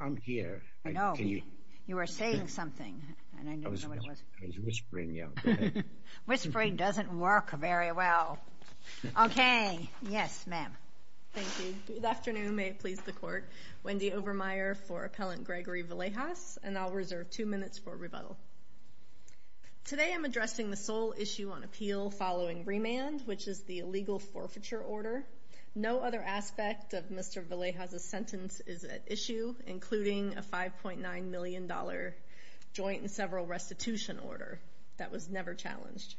I'm here, I know, you were saying something, and I didn't know what it was, I was whispering, yeah. Whispering doesn't work very well. Okay. Yes, ma'am. Thank you. Good afternoon. May it please the court. Wendy Obermeyer for Appellant Gregory Villegas, and I'll reserve two minutes for rebuttal. Today I'm addressing the sole issue on appeal following remand, which is the illegal forfeiture order. No other aspect of Mr. Villegas' sentence is at issue, including a $5.9 million joint and several restitution order. That was never challenged.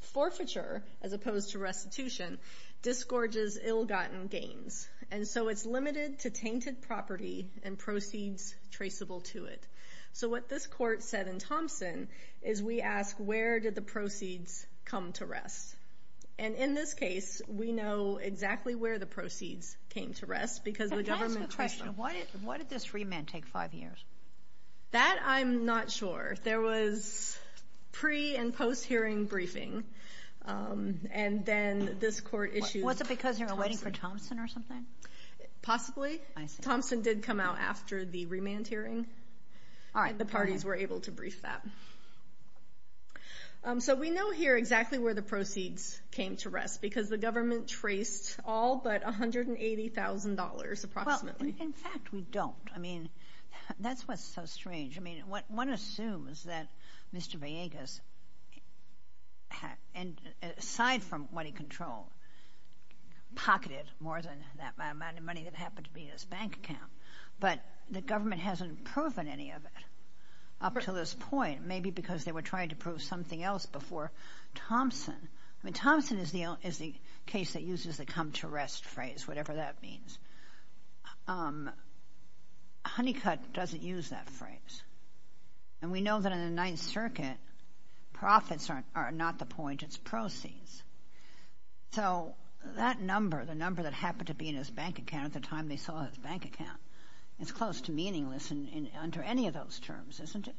Forfeiture, as opposed to restitution, disgorges ill-gotten gains, and so it's limited to tainted property and proceeds traceable to it. So what this court said in Thompson is we ask, where did the proceeds come to rest? And in this case, we know exactly where the proceeds came to rest, because the government traced them. Can I ask a question? Why did this remand take five years? That I'm not sure. There was pre- and post-hearing briefing, and then this court issued... Was it because they were waiting for Thompson or something? Possibly. I see. Thompson did come out after the remand hearing. All right. The parties were able to brief that. So we know here exactly where the proceeds came to rest, because the government traced all but $180,000 approximately. Well, in fact, we don't. I mean, that's what's so strange. I mean, one assumes that Mr. Villegas, aside from what he controlled, pocketed more than that amount of money that happened to be in his bank account. But the government hasn't proven any of it up to this point, maybe because they were trying to prove something else before Thompson. I mean, Thompson is the case that uses the come to rest phrase, whatever that means. Honeycutt doesn't use that phrase. And we know that in the Ninth Circuit, profits are not the point. It's proceeds. So that number, the number that happened to be in his bank account at the time they saw his bank account, it's close to meaningless under any of those terms, isn't it?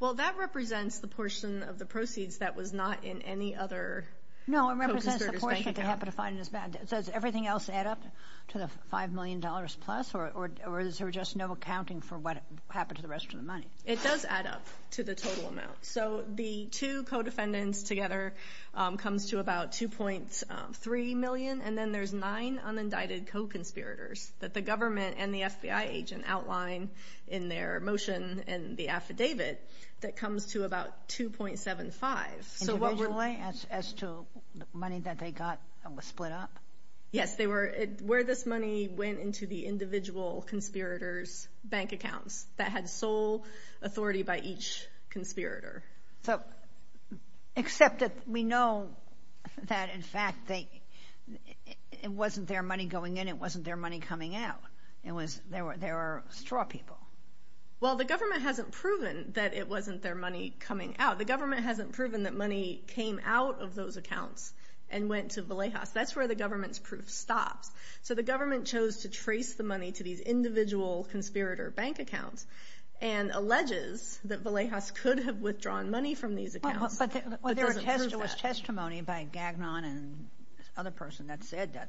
Well, that represents the portion of the proceeds that was not in any other... No, it represents the portion that they happened to find in his bank account. So does everything else add up to the $5 million plus, or is there just no accounting for what happened to the rest of the money? It does add up to the total amount. So the two co-defendants together comes to about $2.3 million. And then there's nine unindicted co-conspirators that the government and the FBI agent outline in their motion in the affidavit that comes to about $2.75. Individually, as to money that they got that was split up? Yes, where this money went into the individual conspirators' bank accounts that had sole authority by each conspirator. Except that we know that, in fact, it wasn't their money going in. It wasn't their money coming out. They were straw people. Well, the government hasn't proven that it wasn't their money coming out. The government hasn't proven that money came out of those accounts and went to Vallejos. That's where the government's proof stops. So the government chose to trace the money to these individual conspirator bank accounts and alleges that Vallejos could have withdrawn money from these accounts. But there was testimony by Gagnon and this other person that said that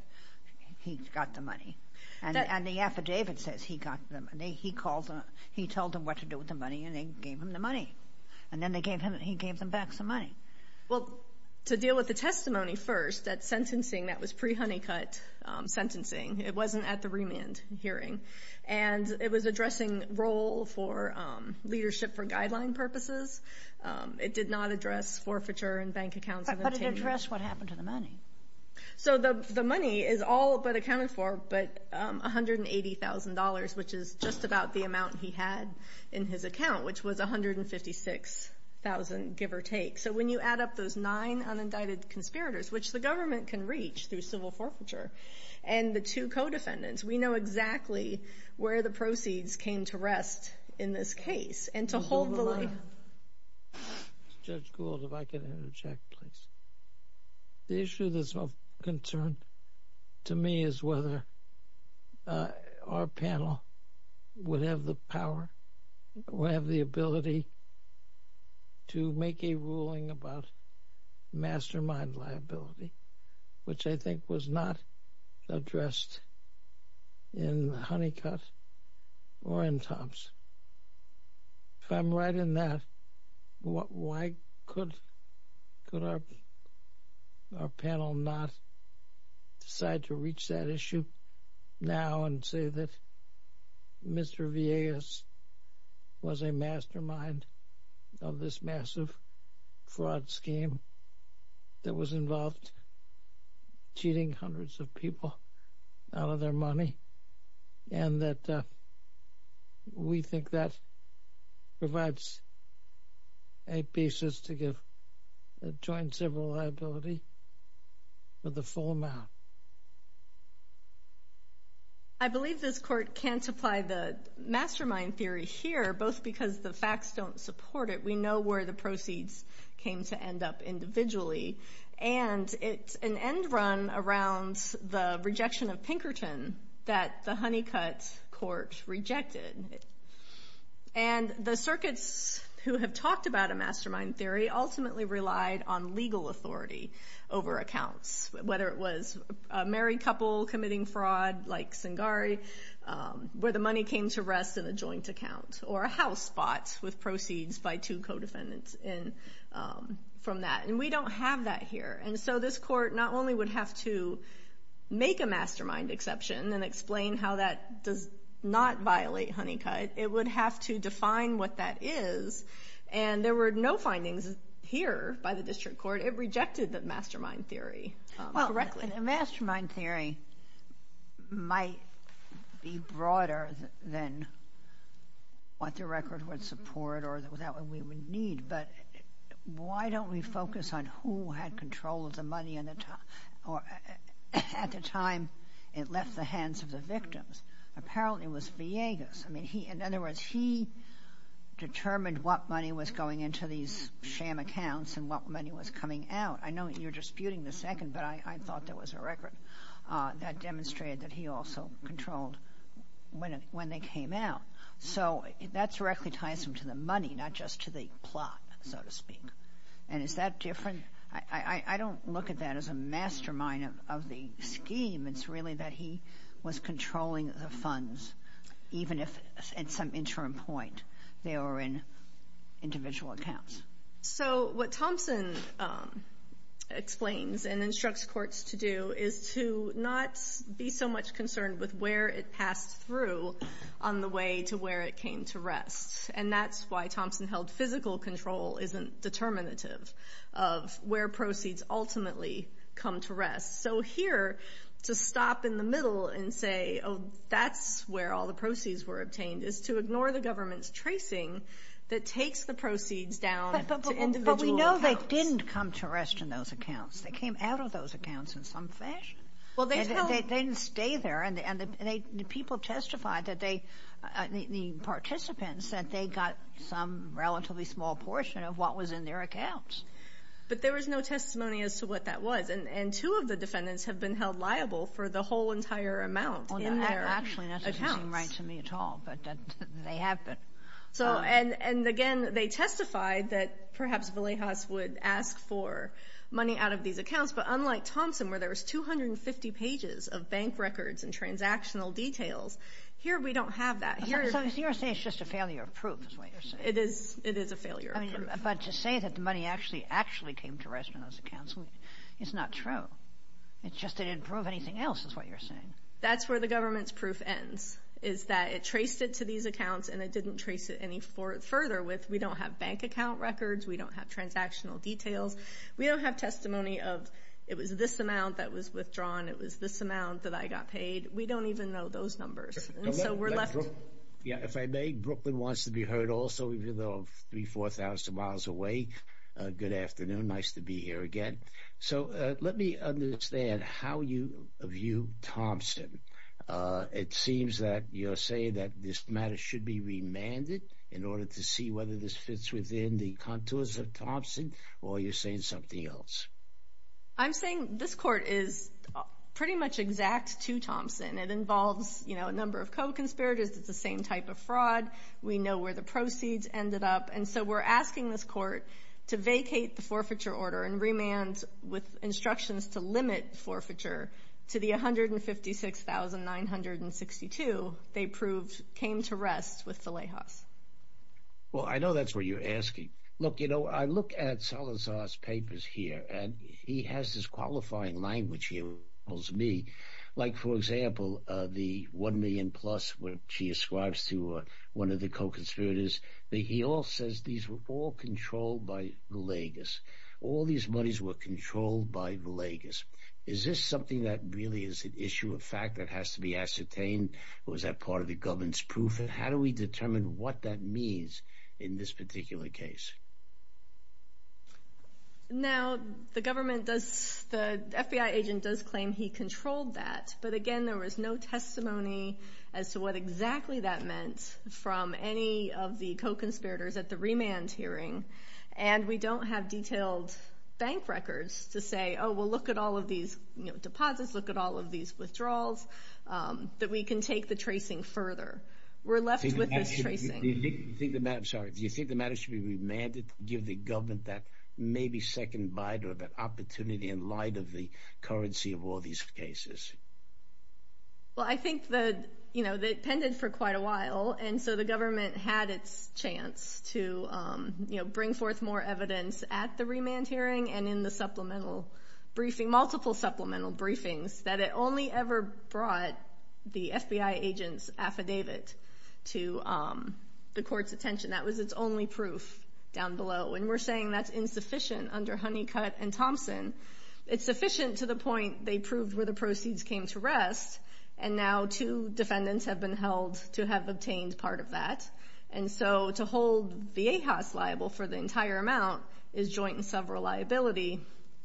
he got the money. And the affidavit says he got the money. He told them what to do with the money, and they gave him the money. And then he gave them back some money. Well, to deal with the testimony first, that sentencing, that was pre-Honeycutt sentencing. It wasn't at the remand hearing. And it was addressing role for leadership for guideline purposes. It did not address forfeiture in bank accounts. But it addressed what happened to the money. So the money is all but accounted for, but $180,000, which is just about the amount he had in his account, which was $156,000, give or take. So when you add up those nine unindicted conspirators, which the government can reach through civil forfeiture, and the two co-defendants, we know exactly where the proceeds came to rest in this case and to hold the line. Judge Gould, if I can interject, please. The issue that's of concern to me is whether our panel would have the power, would have the ability to make a ruling about mastermind liability, which I think was not addressed in the Honeycutt or in Tom's. If I'm right in that, why could our panel not decide to reach that issue now and say that Mr. Villegas was a mastermind of this massive fraud scheme that was involved cheating hundreds of people out of their money and that we think that provides a basis to give joint civil liability for the full amount? I believe this court can't apply the mastermind theory here, both because the facts don't support it. We know where the proceeds came to end up individually. It's an end run around the rejection of Pinkerton that the Honeycutt court rejected. The circuits who have talked about a mastermind theory ultimately relied on legal authority over accounts, whether it was a married couple committing fraud like Singari, where the money came to rest in a joint account, or a house bought with proceeds by two co-defendants from that. And we don't have that here. And so this court not only would have to make a mastermind exception and explain how that does not violate Honeycutt, it would have to define what that is. And there were no findings here by the district court. It rejected the mastermind theory correctly. A mastermind theory might be broader than what the record would support or what we would need, but why don't we focus on who had control of the money at the time it left the hands of the victims? Apparently it was Villegas. In other words, he determined what money was going into these sham accounts and what money was coming out. I know you're disputing the second, but I thought there was a record that demonstrated that he also controlled when they came out. So that directly ties him to the money, not just to the plot, so to speak. And is that different? I don't look at that as a mastermind of the scheme. It's really that he was controlling the funds, even if at some interim point they were in individual accounts. So what Thompson explains and instructs courts to do is to not be so much concerned with where it passed through on the way to where it came to rest. And that's why Thompson held physical control isn't determinative of where proceeds ultimately come to rest. So here to stop in the middle and say, oh, that's where all the proceeds were obtained, is to ignore the government's tracing that takes the proceeds down to individual accounts. But we know they didn't come to rest in those accounts. They came out of those accounts in some fashion. They didn't stay there, and the people testified, the participants, that they got some relatively small portion of what was in their accounts. But there was no testimony as to what that was, and two of the defendants have been held liable for the whole entire amount in their accounts. Actually, that doesn't seem right to me at all, but they have been. And again, they testified that perhaps Villejas would ask for money out of these accounts, but unlike Thompson where there was 250 pages of bank records and transactional details, here we don't have that. So you're saying it's just a failure of proof is what you're saying. It is a failure of proof. But to say that the money actually came to rest in those accounts is not true. It's just they didn't prove anything else is what you're saying. That's where the government's proof ends, is that it traced it to these accounts and it didn't trace it any further. We don't have bank account records. We don't have transactional details. We don't have testimony of it was this amount that was withdrawn. It was this amount that I got paid. We don't even know those numbers. So we're left. If I may, Brooklyn wants to be heard also, even though I'm 3,000, 4,000 miles away. Good afternoon. Nice to be here again. So let me understand how you view Thompson. It seems that you're saying that this matter should be remanded in order to see whether this fits within the contours of Thompson, or you're saying something else. I'm saying this court is pretty much exact to Thompson. It involves a number of co-conspirators. It's the same type of fraud. We know where the proceeds ended up. And so we're asking this court to vacate the forfeiture order and remand with instructions to limit forfeiture to the 156,962 they proved came to rest with the Lehas. Well, I know that's what you're asking. Look, you know, I look at Salazar's papers here, and he has this qualifying language here with me. Like, for example, the 1 million plus, which he ascribes to one of the co-conspirators. He all says these were all controlled by the Legas. All these monies were controlled by the Legas. Is this something that really is an issue of fact that has to be ascertained? Or is that part of the government's proof? And how do we determine what that means in this particular case? Now, the government does, the FBI agent does claim he controlled that. But again, there was no testimony as to what exactly that meant from any of the co-conspirators at the remand hearing. And we don't have detailed bank records to say, oh, well, look at all of these deposits, look at all of these withdrawals, that we can take the tracing further. We're left with this tracing. Do you think the matter should be remanded to give the government that maybe second bite or that opportunity in light of the currency of all these cases? Well, I think that, you know, they appended for quite a while, and so the government had its chance to, you know, bring forth more evidence at the remand hearing and in the supplemental briefing, multiple supplemental briefings, that it only ever brought the FBI agent's affidavit to the court's attention. That was its only proof down below. And we're saying that's insufficient under Honeycutt and Thompson. It's sufficient to the point they proved where the proceeds came to rest, and now two defendants have been held to have obtained part of that. And so to hold Viejas liable for the entire amount is joint and several liability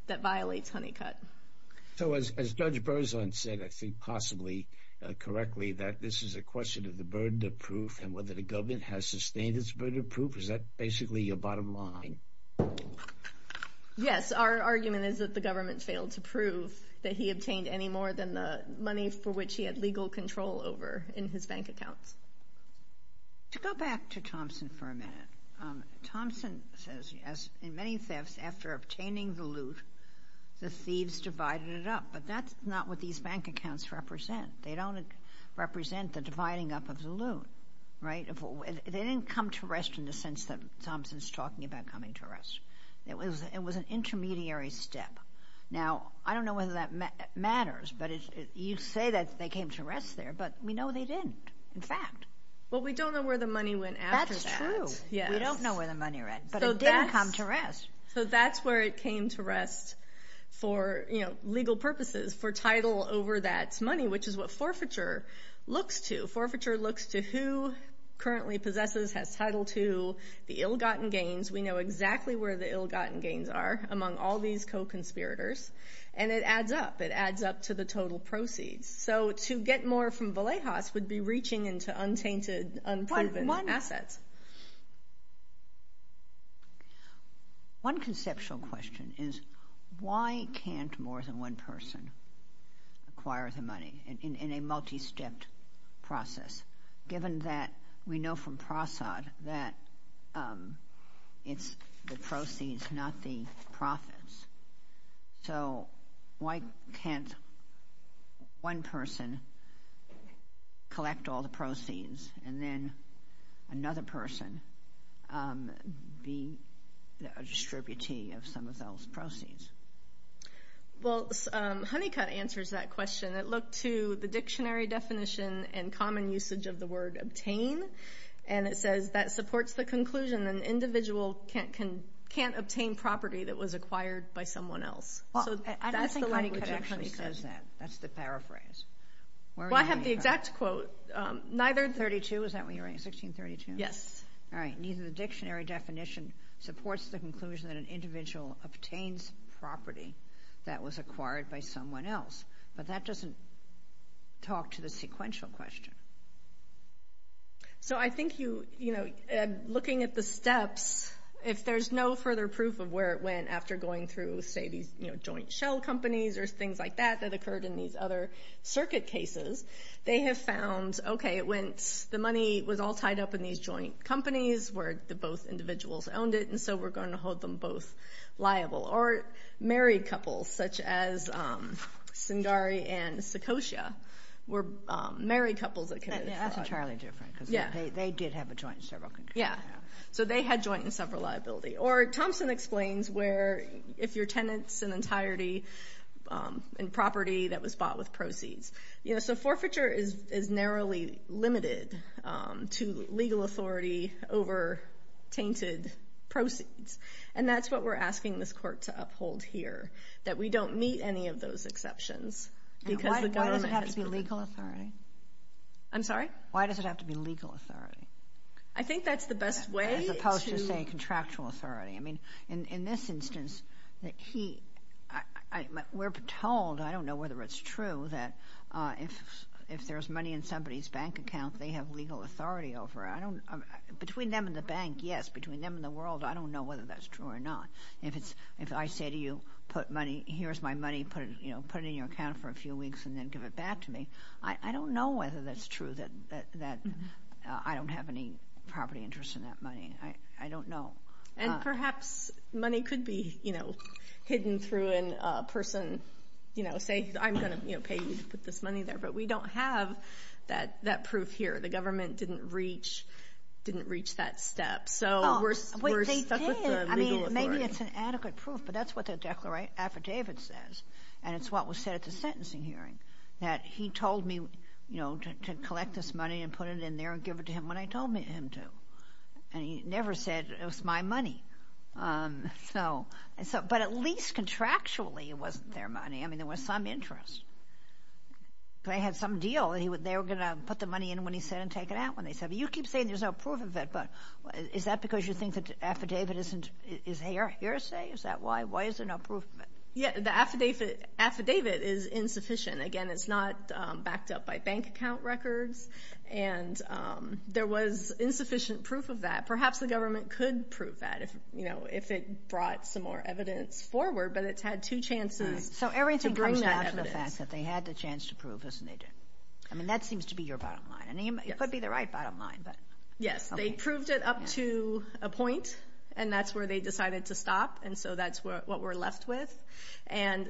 that violates Honeycutt. So as Judge Berzon said, I think, possibly correctly, that this is a question of the burden of proof and whether the government has sustained its burden of proof, is that basically your bottom line? Yes, our argument is that the government failed to prove that he obtained any more than the money for which he had legal control over in his bank accounts. To go back to Thompson for a minute, Thompson says, in many thefts, after obtaining the loot, the thieves divided it up. But that's not what these bank accounts represent. They don't represent the dividing up of the loot, right? They didn't come to rest in the sense that Thompson's talking about coming to rest. It was an intermediary step. Now, I don't know whether that matters, but you say that they came to rest there, but we know they didn't, in fact. Well, we don't know where the money went after that. That's true. We don't know where the money went, but it didn't come to rest. So that's where it came to rest for legal purposes, for title over that money, which is what forfeiture looks to. Forfeiture looks to who currently possesses, has title to, the ill-gotten gains. We know exactly where the ill-gotten gains are among all these co-conspirators, and it adds up. It adds up to the total proceeds. So to get more from Vallejos would be reaching into untainted, unproven assets. One conceptual question is, why can't more than one person acquire the money in a multi-stepped process, given that we know from Prasad that it's the proceeds, not the profits? So why can't one person collect all the proceeds and then another person be a distributee of some of those proceeds? Well, Honeycutt answers that question. It looked to the dictionary definition and common usage of the word obtain, and it says that supports the conclusion an individual can't obtain property that was acquired by someone else. I don't think Honeycutt actually says that. That's the paraphrase. Well, I have the exact quote. Neither the dictionary definition supports the conclusion that an individual obtains property that was acquired by someone else, but that doesn't talk to the sequential question. So I think looking at the steps, if there's no further proof of where it went after going through, say, these joint shell companies or things like that that occurred in these other circuit cases, they have found, okay, the money was all tied up in these joint companies where both individuals owned it, and so we're going to hold them both liable. Or married couples such as Singari and Sikosha were married couples that committed fraud. That's entirely different because they did have a joint in several countries. Yeah. So they had joint and several liability. Or Thompson explains where if your tenant's an entirety in property that was bought with proceeds. So forfeiture is narrowly limited to legal authority over tainted proceeds, and that's what we're asking this court to uphold here, that we don't meet any of those exceptions. Why does it have to be legal authority? I'm sorry? Why does it have to be legal authority? I think that's the best way. As opposed to, say, contractual authority. I mean, in this instance, we're told, I don't know whether it's true, that if there's money in somebody's bank account, they have legal authority over it. Between them and the bank, yes. But between them and the world, I don't know whether that's true or not. If I say to you, here's my money, put it in your account for a few weeks and then give it back to me, I don't know whether that's true that I don't have any property interest in that money. I don't know. And perhaps money could be hidden through a person, say, I'm going to pay you to put this money there. But we don't have that proof here. The government didn't reach that step. So we're stuck with the legal authority. Maybe it's an adequate proof, but that's what the affidavit says, and it's what was said at the sentencing hearing, that he told me to collect this money and put it in there and give it to him when I told him to. And he never said it was my money. But at least contractually it wasn't their money. I mean, there was some interest. They had some deal. They were going to put the money in when he said and take it out when they said it. You keep saying there's no proof of it, but is that because you think the affidavit is a hearsay? Is that why? Why is there no proof of it? Yeah, the affidavit is insufficient. Again, it's not backed up by bank account records, and there was insufficient proof of that. Perhaps the government could prove that if it brought some more evidence forward, but it's had two chances to bring that evidence. They had the chance to prove this, and they didn't. I mean, that seems to be your bottom line. It could be the right bottom line. Yes, they proved it up to a point, and that's where they decided to stop, and so that's what we're left with. And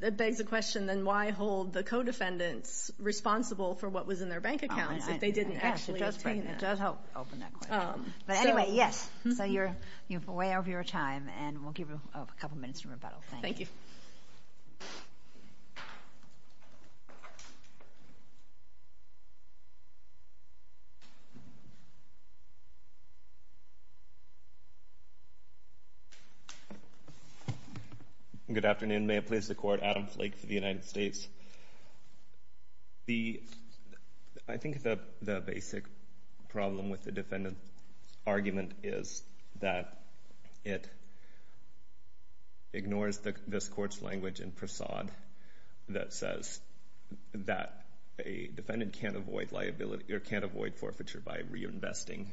that begs the question, then, why hold the co-defendants responsible for what was in their bank accounts if they didn't actually obtain it? It does help open that question. But anyway, yes. So you're way over your time, and we'll give you a couple minutes to rebuttal. Thank you. Thank you. Good afternoon. May it please the Court, Adam Flake for the United States. I think the basic problem with the defendant's argument is that it ignores this Court's language in Prasad that says that a defendant can't avoid forfeiture by reinvesting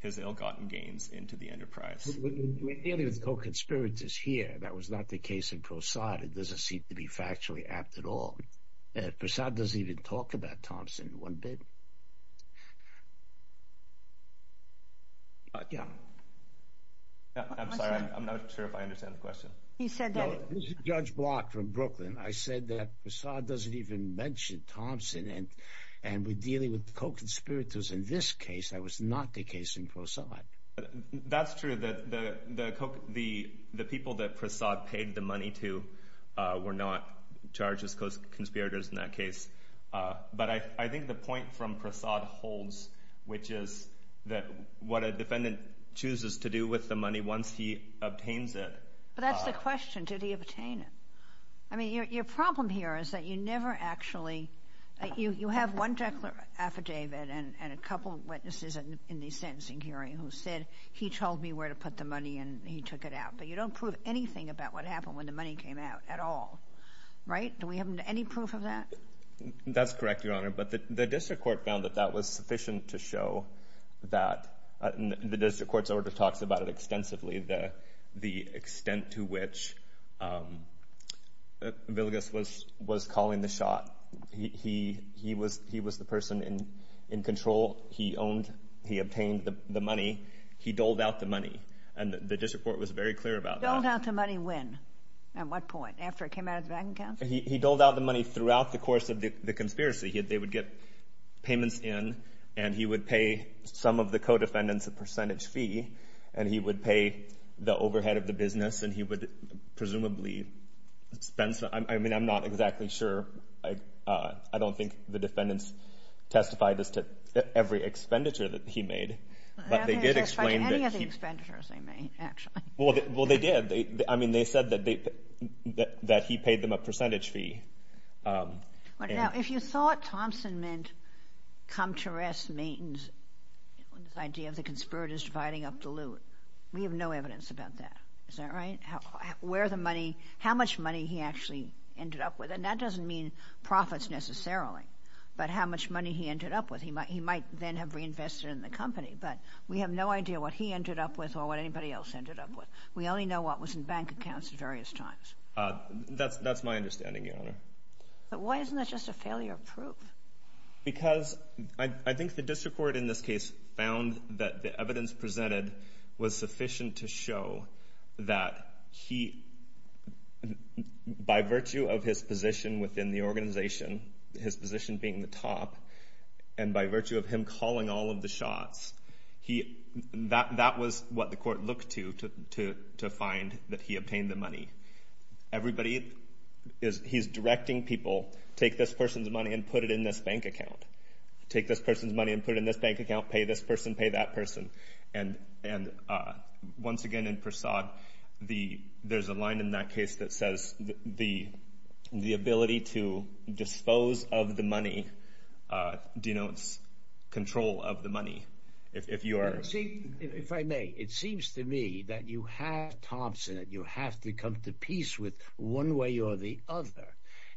his ill-gotten gains into the enterprise. We're dealing with co-conspirators here. That was not the case in Prasad. It doesn't seem to be factually apt at all. Prasad doesn't even talk about Thompson one bit. I'm sorry. I'm not sure if I understand the question. Judge Block from Brooklyn. I said that Prasad doesn't even mention Thompson, and we're dealing with co-conspirators in this case. That was not the case in Prasad. That's true. The people that Prasad paid the money to were not charged as co-conspirators in that case. But I think the point from Prasad holds, which is that what a defendant chooses to do with the money once he obtains it. But that's the question. Did he obtain it? I mean, your problem here is that you never actually – you have one affidavit and a couple of witnesses in the sentencing hearing who said, he told me where to put the money, and he took it out. But you don't prove anything about what happened when the money came out at all, right? Do we have any proof of that? That's correct, Your Honor. But the district court found that that was sufficient to show that – Villegas was calling the shot. He was the person in control. He owned – he obtained the money. He doled out the money, and the district court was very clear about that. Doled out the money when? At what point? After it came out of the bank account? He doled out the money throughout the course of the conspiracy. They would get payments in, and he would pay some of the co-defendants a percentage fee, and he would pay the overhead of the business, and he would presumably spend some – I mean, I'm not exactly sure. I don't think the defendants testified as to every expenditure that he made. They didn't testify to any of the expenditures they made, actually. Well, they did. I mean, they said that he paid them a percentage fee. Now, if you thought Thompson meant come to rest, maintenance, this idea of the conspirators dividing up the loot, we have no evidence about that. Is that right? Where the money – how much money he actually ended up with, and that doesn't mean profits necessarily, but how much money he ended up with. He might then have reinvested in the company, but we have no idea what he ended up with or what anybody else ended up with. We only know what was in bank accounts at various times. That's my understanding, Your Honor. But why isn't that just a failure of proof? Because I think the district court in this case found that the evidence presented was sufficient to show that he, by virtue of his position within the organization, his position being the top, and by virtue of him calling all of the shots, that was what the court looked to to find that he obtained the money. Everybody is – he's directing people, take this person's money and put it in this bank account. Take this person's money and put it in this bank account. Pay this person, pay that person. And once again in Persaud, there's a line in that case that says, the ability to dispose of the money denotes control of the money. If you are – See, if I may, it seems to me that you have Thompson, that you have to come to peace with one way or the other.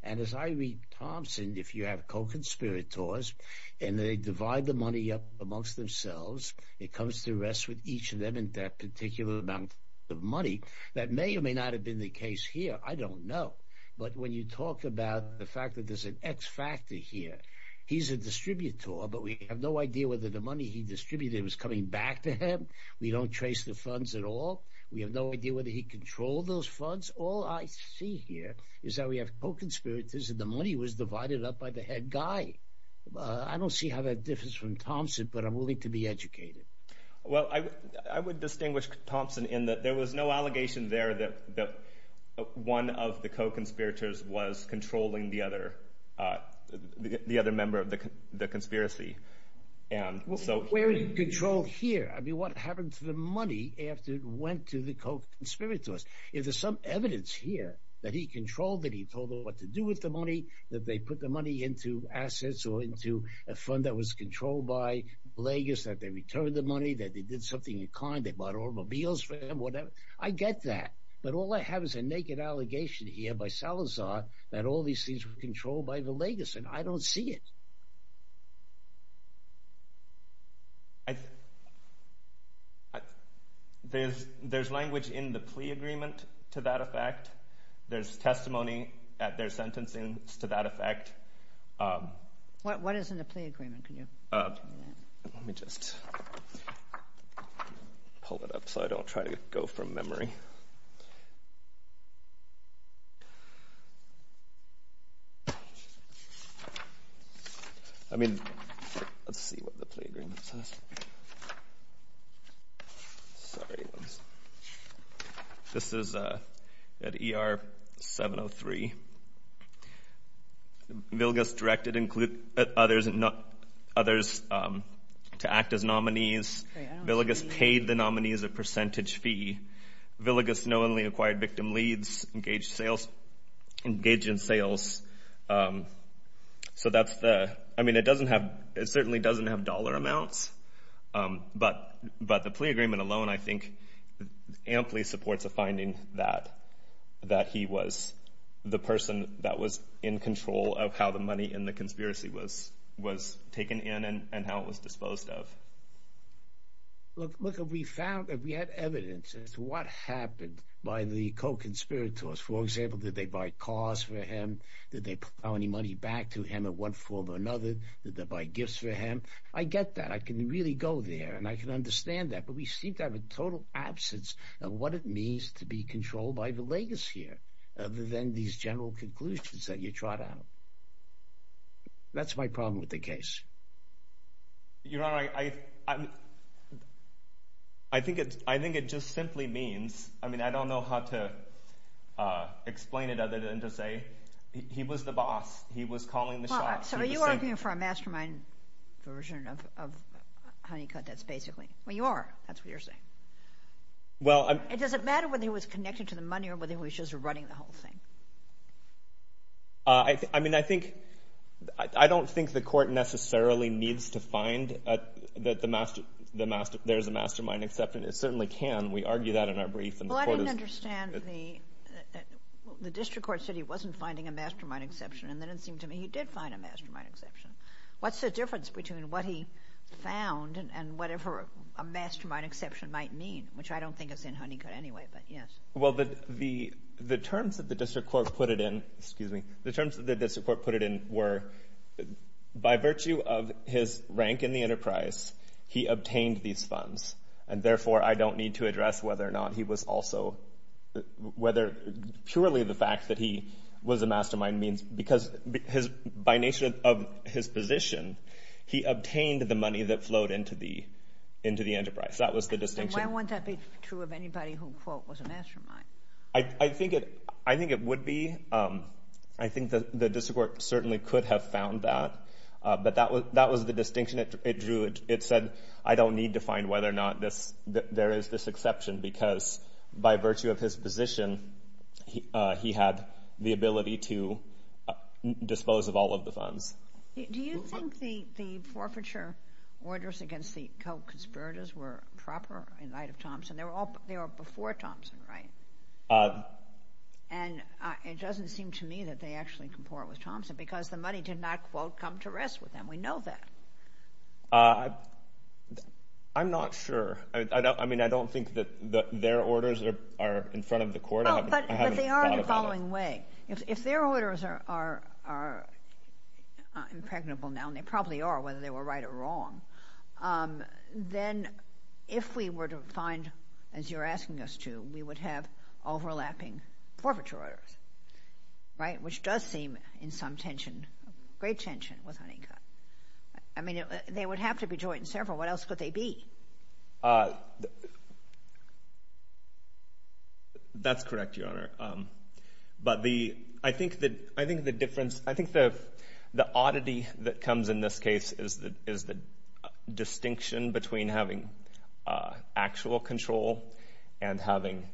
And as I read Thompson, if you have co-conspirators and they divide the money up amongst themselves, it comes to rest with each of them and their particular amount of money, that may or may not have been the case here. I don't know. But when you talk about the fact that there's an X factor here, he's a distributor, but we have no idea whether the money he distributed was coming back to him. We don't trace the funds at all. We have no idea whether he controlled those funds. All I see here is that we have co-conspirators and the money was divided up by the head guy. I don't see how that differs from Thompson, but I'm willing to be educated. Well, I would distinguish Thompson in that there was no allegation there that one of the co-conspirators was controlling the other member of the conspiracy. Where did he control here? I mean, what happened to the money after it went to the co-conspirators? Is there some evidence here that he controlled, that he told them what to do with the money, that they put the money into assets or into a fund that was controlled by Blagos, that they returned the money, that they did something in kind, they bought automobiles for him, whatever? I get that, but all I have is a naked allegation here by Salazar that all these things were controlled by the Blagos, and I don't see it. There's language in the plea agreement to that effect. There's testimony at their sentencing to that effect. What is in the plea agreement? Let me just pull it up so I don't try to go from memory. I mean, let's see what the plea agreement says. Sorry. This is at ER 703. Villegas directed others to act as nominees. Villegas paid the nominees a percentage fee. Villegas knowingly acquired victim leads, engaged in sales. I mean, it certainly doesn't have dollar amounts, but the plea agreement alone I think amply supports a finding that he was the person that was in control of how the money in the conspiracy was taken in and how it was disposed of. Look, if we have evidence as to what happened by the co-conspirators, for example, did they buy cars for him? Did they put any money back to him in one form or another? Did they buy gifts for him? I get that. I can really go there, and I can understand that, but we seem to have a total absence of what it means to be controlled by Villegas here other than these general conclusions that you trot out. That's my problem with the case. Your Honor, I think it just simply means, I mean, I don't know how to explain it other than to say he was the boss. He was calling the shots. So are you arguing for a mastermind version of Honeycutt, that's basically? Well, you are. That's what you're saying. Does it matter whether he was connected to the money or whether he was just running the whole thing? I mean, I don't think the court necessarily needs to find that there's a mastermind, except it certainly can. We argue that in our brief. Well, I don't understand. The district court said he wasn't finding a mastermind exception, and then it seemed to me he did find a mastermind exception. What's the difference between what he found and whatever a mastermind exception might mean, which I don't think is in Honeycutt anyway, but yes. Well, the terms that the district court put it in were, by virtue of his rank in the enterprise, he obtained these funds, and therefore I don't need to address whether or not he was also, whether purely the fact that he was a mastermind means, because by nature of his position, he obtained the money that flowed into the enterprise. That was the distinction. Why wouldn't that be true of anybody who, quote, was a mastermind? I think it would be. I think the district court certainly could have found that, but that was the distinction it drew. It said I don't need to find whether or not there is this exception because by virtue of his position, he had the ability to dispose of all of the funds. Do you think the forfeiture orders against the co-conspirators were proper in light of Thompson? They were before Thompson, right? And it doesn't seem to me that they actually comport with Thompson because the money did not, quote, come to rest with them. We know that. I'm not sure. I mean, I don't think that their orders are in front of the court. But they are in the following way. If their orders are impregnable now, and they probably are whether they were right or wrong, then if we were to find, as you're asking us to, we would have overlapping forfeiture orders, right, which does seem in some tension, great tension with Honeycutt. I mean, they would have to be joint and several. What else could they be? That's correct, Your Honor. But I think the difference, I think the oddity that comes in this case is the distinction between having actual control and having,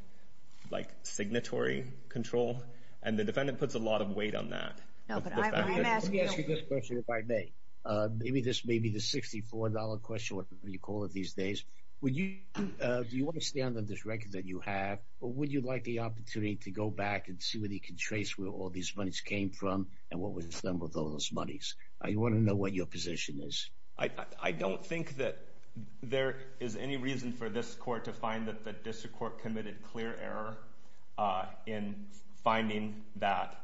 like, signatory control. And the defendant puts a lot of weight on that. Let me ask you this question, if I may. This may be the $64 question, whatever you call it these days. Do you want to stay on this record that you have, or would you like the opportunity to go back and see what he can trace where all these monies came from and what was done with all those monies? I want to know what your position is. I don't think that there is any reason for this court to find that the district court committed clear error in finding that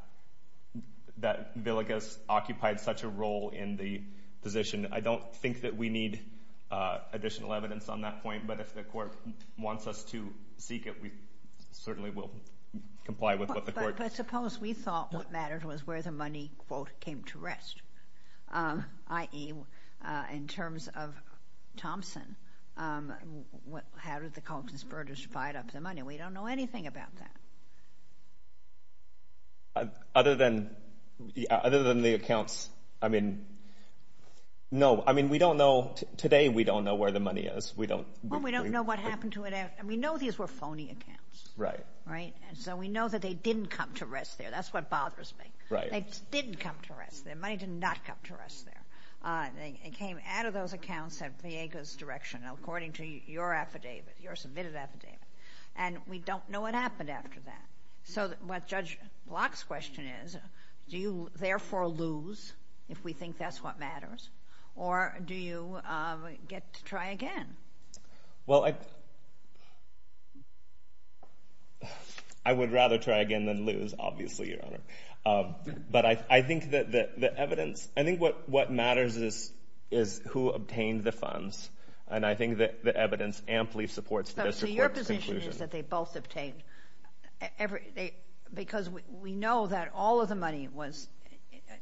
Villegas occupied such a role in the position. I don't think that we need additional evidence on that point, but if the court wants us to seek it, we certainly will comply with what the court does. But suppose we thought what mattered was where the money, quote, came to rest, i.e., in terms of Thompson. How did the Colton's Burgers divide up the money? We don't know anything about that. Other than the accounts, I mean, no. I mean, we don't know. Today we don't know where the money is. Well, we don't know what happened to it. We know these were phony accounts, right? So we know that they didn't come to rest there. That's what bothers me. They didn't come to rest there. The money did not come to rest there. It came out of those accounts at Villegas Directional, according to your affidavit, your submitted affidavit. And we don't know what happened after that. So what Judge Block's question is, do you therefore lose if we think that's what matters, or do you get to try again? Well, I would rather try again than lose, obviously, Your Honor. But I think that the evidence – I think what matters is who obtained the funds. And I think that the evidence amply supports the district court's conclusion. So your position is that they both obtained – because we know that all of the money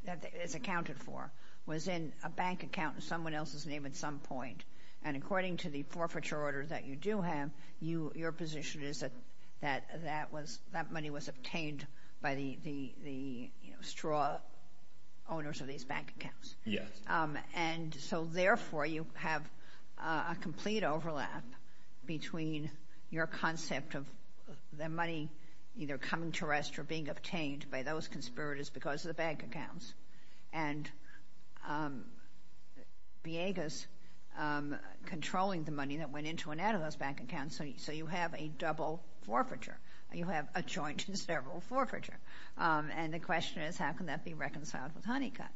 that it's accounted for was in a bank account in someone else's name at some point. And according to the forfeiture order that you do have, your position is that that money was obtained by the straw owners of these bank accounts. Yes. And so therefore you have a complete overlap between your concept of the money either coming to rest or being obtained by those conspirators because of the bank accounts and Villegas controlling the money that went into and out of those bank accounts. So you have a double forfeiture. You have a joint and several forfeiture. And the question is, how can that be reconciled with Honeycutt?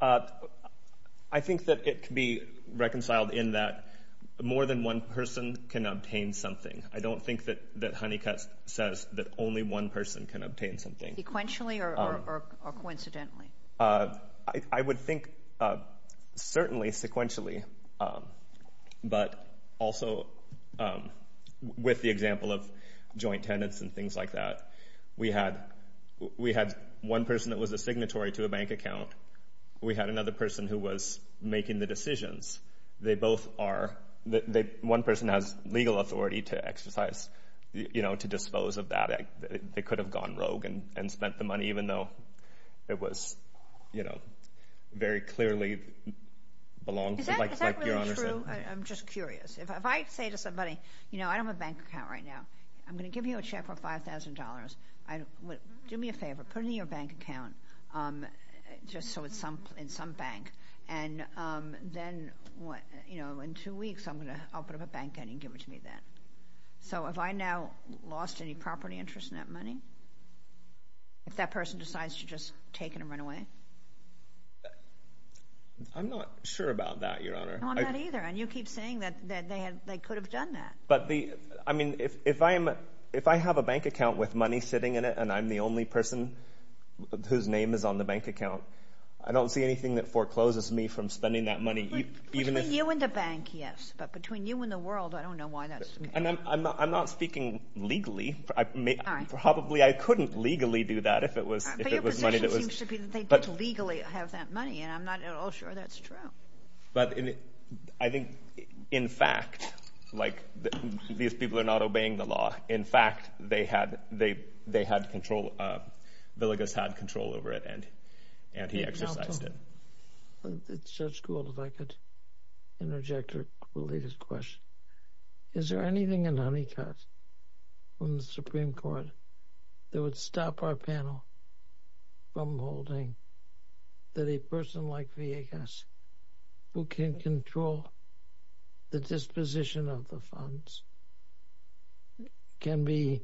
I think that it can be reconciled in that more than one person can obtain something. I don't think that Honeycutt says that only one person can obtain something. Sequentially or coincidentally? I would think certainly sequentially. But also with the example of joint tenants and things like that, we had one person that was a signatory to a bank account. We had another person who was making the decisions. One person has legal authority to exercise, to dispose of that. Even though it was very clearly belongs to, like your Honor said. Is that really true? I'm just curious. If I say to somebody, you know, I don't have a bank account right now. I'm going to give you a check for $5,000. Do me a favor. Put it in your bank account just so it's in some bank. And then in two weeks I'm going to open up a bank and you can give it to me then. So have I now lost any property interest in that money? If that person decides to just take it and run away? I'm not sure about that, Your Honor. I'm not either. And you keep saying that they could have done that. But, I mean, if I have a bank account with money sitting in it and I'm the only person whose name is on the bank account, I don't see anything that forecloses me from spending that money. Between you and the bank, yes. But between you and the world, I don't know why that's the case. I'm not speaking legally. All right. Probably I couldn't legally do that if it was money that was— But your position seems to be that they don't legally have that money, and I'm not at all sure that's true. But I think, in fact, like these people are not obeying the law. In fact, they had control. Villegas had control over it, and he exercised it. It's just cool if I could interject a related question. Is there anything in Honeycutt from the Supreme Court that would stop our panel from holding that a person like Villegas, who can control the disposition of the funds, can be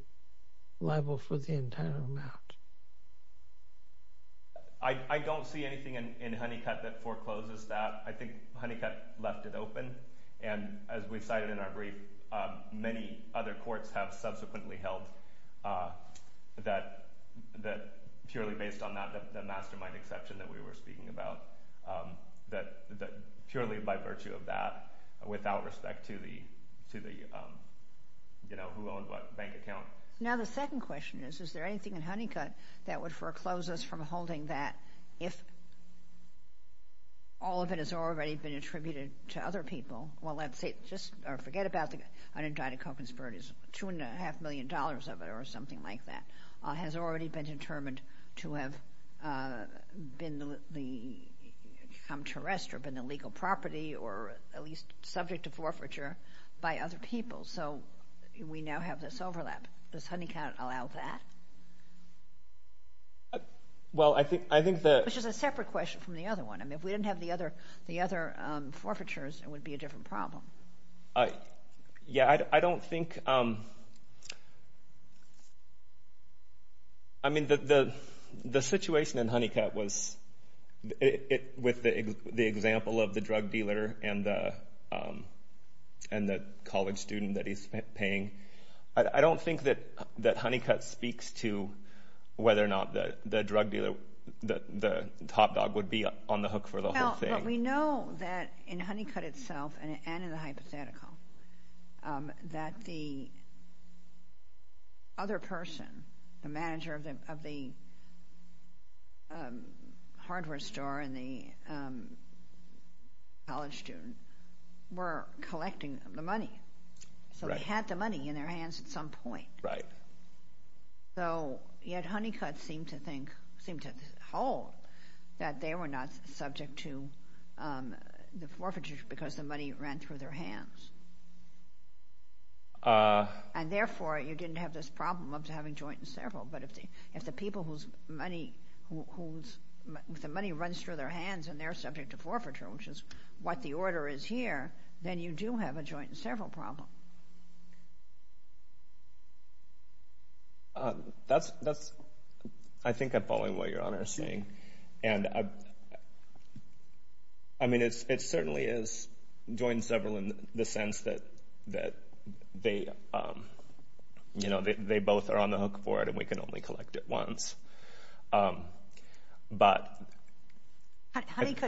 liable for the entire amount? I don't see anything in Honeycutt that forecloses that. I think Honeycutt left it open. And as we cited in our brief, many other courts have subsequently held that, purely based on the mastermind exception that we were speaking about, that purely by virtue of that, without respect to the, you know, who owned what bank account. Now, the second question is, is there anything in Honeycutt that would foreclose us from holding that if all of it has already been attributed to other people? Well, let's say, just forget about the undecided co-conspirators. Two and a half million dollars of it, or something like that, has already been determined to have become terrestrial, been illegal property, or at least subject to forfeiture by other people. So we now have this overlap. Does Honeycutt allow that? Well, I think that... Which is a separate question from the other one. I mean, if we didn't have the other forfeitures, it would be a different problem. Yeah, I don't think... I mean, the situation in Honeycutt was, with the example of the drug dealer and the college student that he's paying, I don't think that Honeycutt speaks to whether or not the drug dealer, the top dog, would be on the hook for the whole thing. But we know that in Honeycutt itself, and in the hypothetical, that the other person, the manager of the hardware store and the college student, were collecting the money. Right. So they had the money in their hands at some point. Right. So yet Honeycutt seemed to hold that they were not subject to the forfeiture because the money ran through their hands. And therefore, you didn't have this problem of having joint and several. But if the people whose money runs through their hands and they're subject to forfeiture, which is what the order is here, then you do have a joint and several problem. I think I'm following what Your Honor is saying. I mean, it certainly is joint and several in the sense that they both are on the hook for it and we can only collect it once. Honeycutt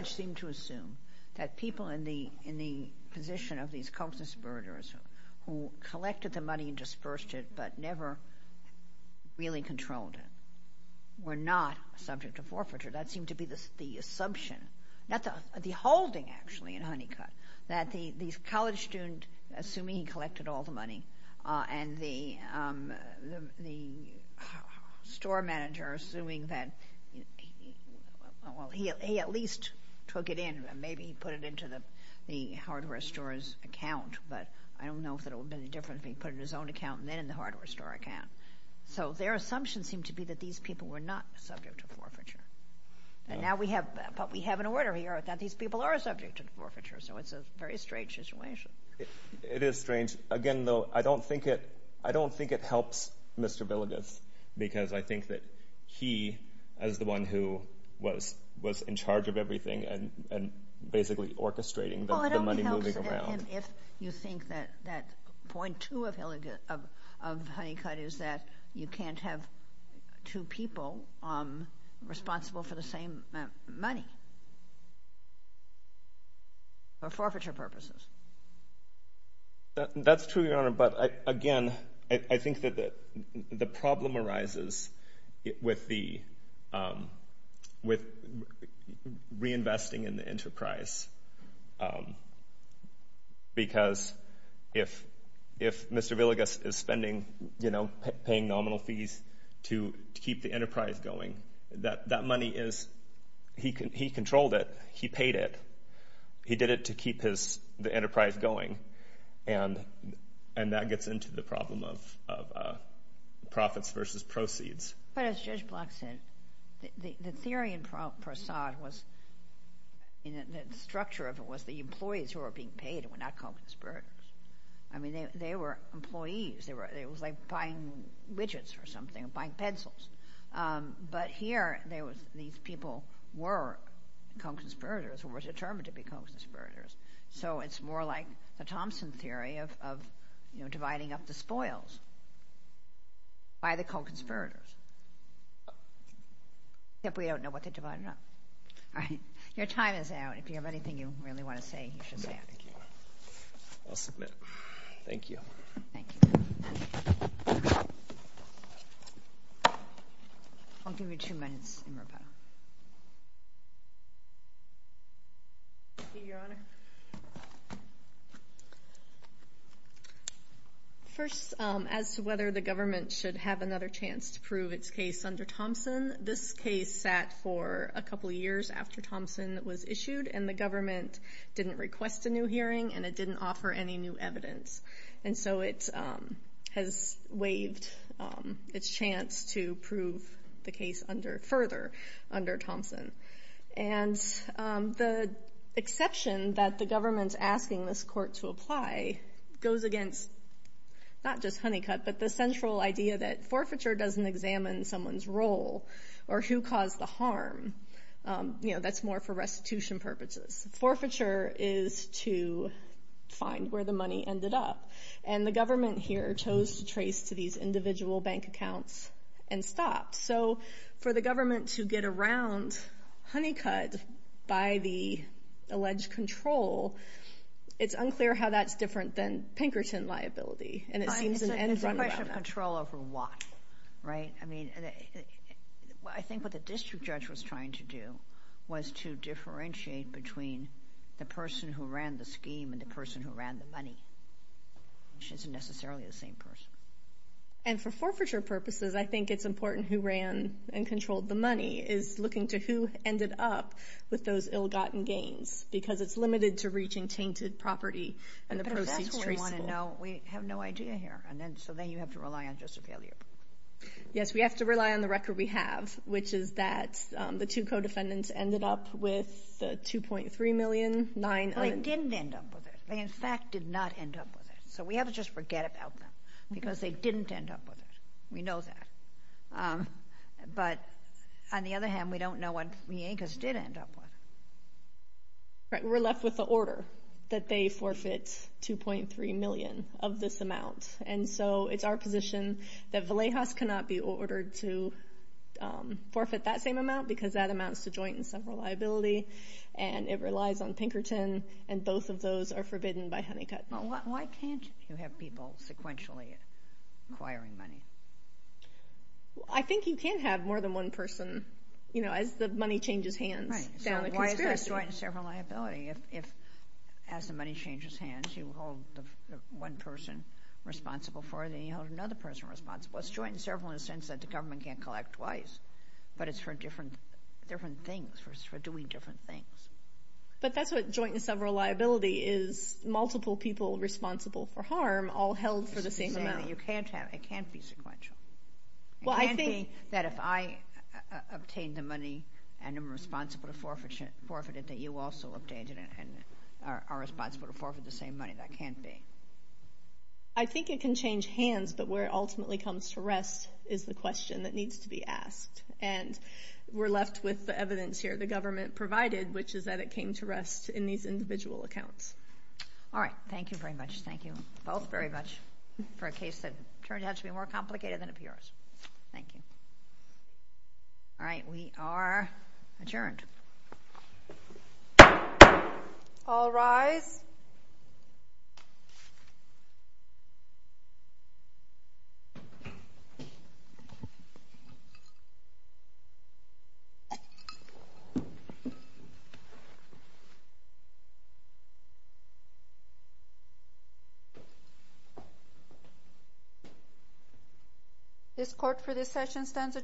seemed to assume that people in the position of these co-conspirators who collected the money and dispersed it but never really controlled it were not subject to forfeiture. That seemed to be the assumption, not the holding, actually, in Honeycutt, that the college student, assuming he collected all the money, and the store manager, assuming that he at least took it in, and maybe he put it into the hardware store's account, but I don't know if it would have been any different if he put it in his own account and then in the hardware store account. So their assumption seemed to be that these people were not subject to forfeiture. But we have an order here that these people are subject to forfeiture, so it's a very strange situation. It is strange. Again, though, I don't think it helps Mr. Villegas because I think that he, as the one who was in charge of everything and basically orchestrating the money moving around... Well, I don't think it helps him if you think that point two of Honeycutt is that you can't have two people responsible for the same money for forfeiture purposes. That's true, Your Honor, but again, I think that the problem arises with reinvesting in the enterprise because if Mr. Villegas is paying nominal fees to keep the enterprise going, that money is... He controlled it. He paid it. He did it to keep the enterprise going, and that gets into the problem of profits versus proceeds. But as Judge Block said, the theory in Prasad was... The structure of it was the employees who were being paid were not conspirators. I mean, they were employees. It was like buying widgets or something, buying pencils. But here, these people were conspirators or were determined to be conspirators, so it's more like the Thompson theory of dividing up the spoils by the co-conspirators. Except we don't know what they divided up. All right, your time is out. If you have anything you really want to say, you should say it. I'll submit. Thank you. Thank you. I'll give you two minutes in rebuttal. Thank you, Your Honor. First, as to whether the government should have another chance to prove its case under Thompson, this case sat for a couple of years after Thompson was issued, and the government didn't request a new hearing, and it didn't offer any new evidence. And so it has waived its chance to prove the case under further. And the exception that the government's asking this court to apply goes against not just Honeycutt, but the central idea that forfeiture doesn't examine someone's role or who caused the harm. You know, that's more for restitution purposes. Forfeiture is to find where the money ended up, and the government here chose to trace to these individual bank accounts and stopped. So for the government to get around Honeycutt by the alleged control, it's unclear how that's different than Pinkerton liability. It's a question of control over what, right? I mean, I think what the district judge was trying to do was to differentiate between the person who ran the scheme and the person who ran the money, which isn't necessarily the same person. And for forfeiture purposes, I think it's important who ran and controlled the money is looking to who ended up with those ill-gotten gains, because it's limited to reaching tainted property and the proceeds traceable. But that's what we want to know. We have no idea here. So then you have to rely on just a failure. Yes, we have to rely on the record we have, which is that the two co-defendants ended up with $2.3 million. They didn't end up with it. They, in fact, did not end up with it. So we have to just forget about them because they didn't end up with it. We know that. But on the other hand, we don't know what Villegas did end up with. We're left with the order that they forfeit $2.3 million of this amount. And so it's our position that Villegas cannot be ordered to forfeit that same amount because that amounts to joint and several liability, and it relies on Pinkerton, and both of those are forbidden by Honeycutt. Why can't you have people sequentially acquiring money? I think you can have more than one person, you know, as the money changes hands down the conspiracy. Right, so why is there joint and several liability if as the money changes hands you hold one person responsible for it and then you hold another person responsible? It's joint and several in the sense that the government can't collect twice, but it's for different things, for doing different things. But that's what joint and several liability is, multiple people responsible for harm all held for the same amount. You can't have it. It can't be sequential. It can't be that if I obtain the money and am responsible to forfeit it that you also obtain it and are responsible to forfeit the same money. That can't be. I think it can change hands, but where it ultimately comes to rest is the question that needs to be asked. And we're left with the evidence here the government provided, which is that it came to rest in these individual accounts. All right. Thank you very much. Thank you both very much for a case that turned out to be more complicated than it appears. Thank you. All right, we are adjourned. All rise. This court for this session stands adjourned.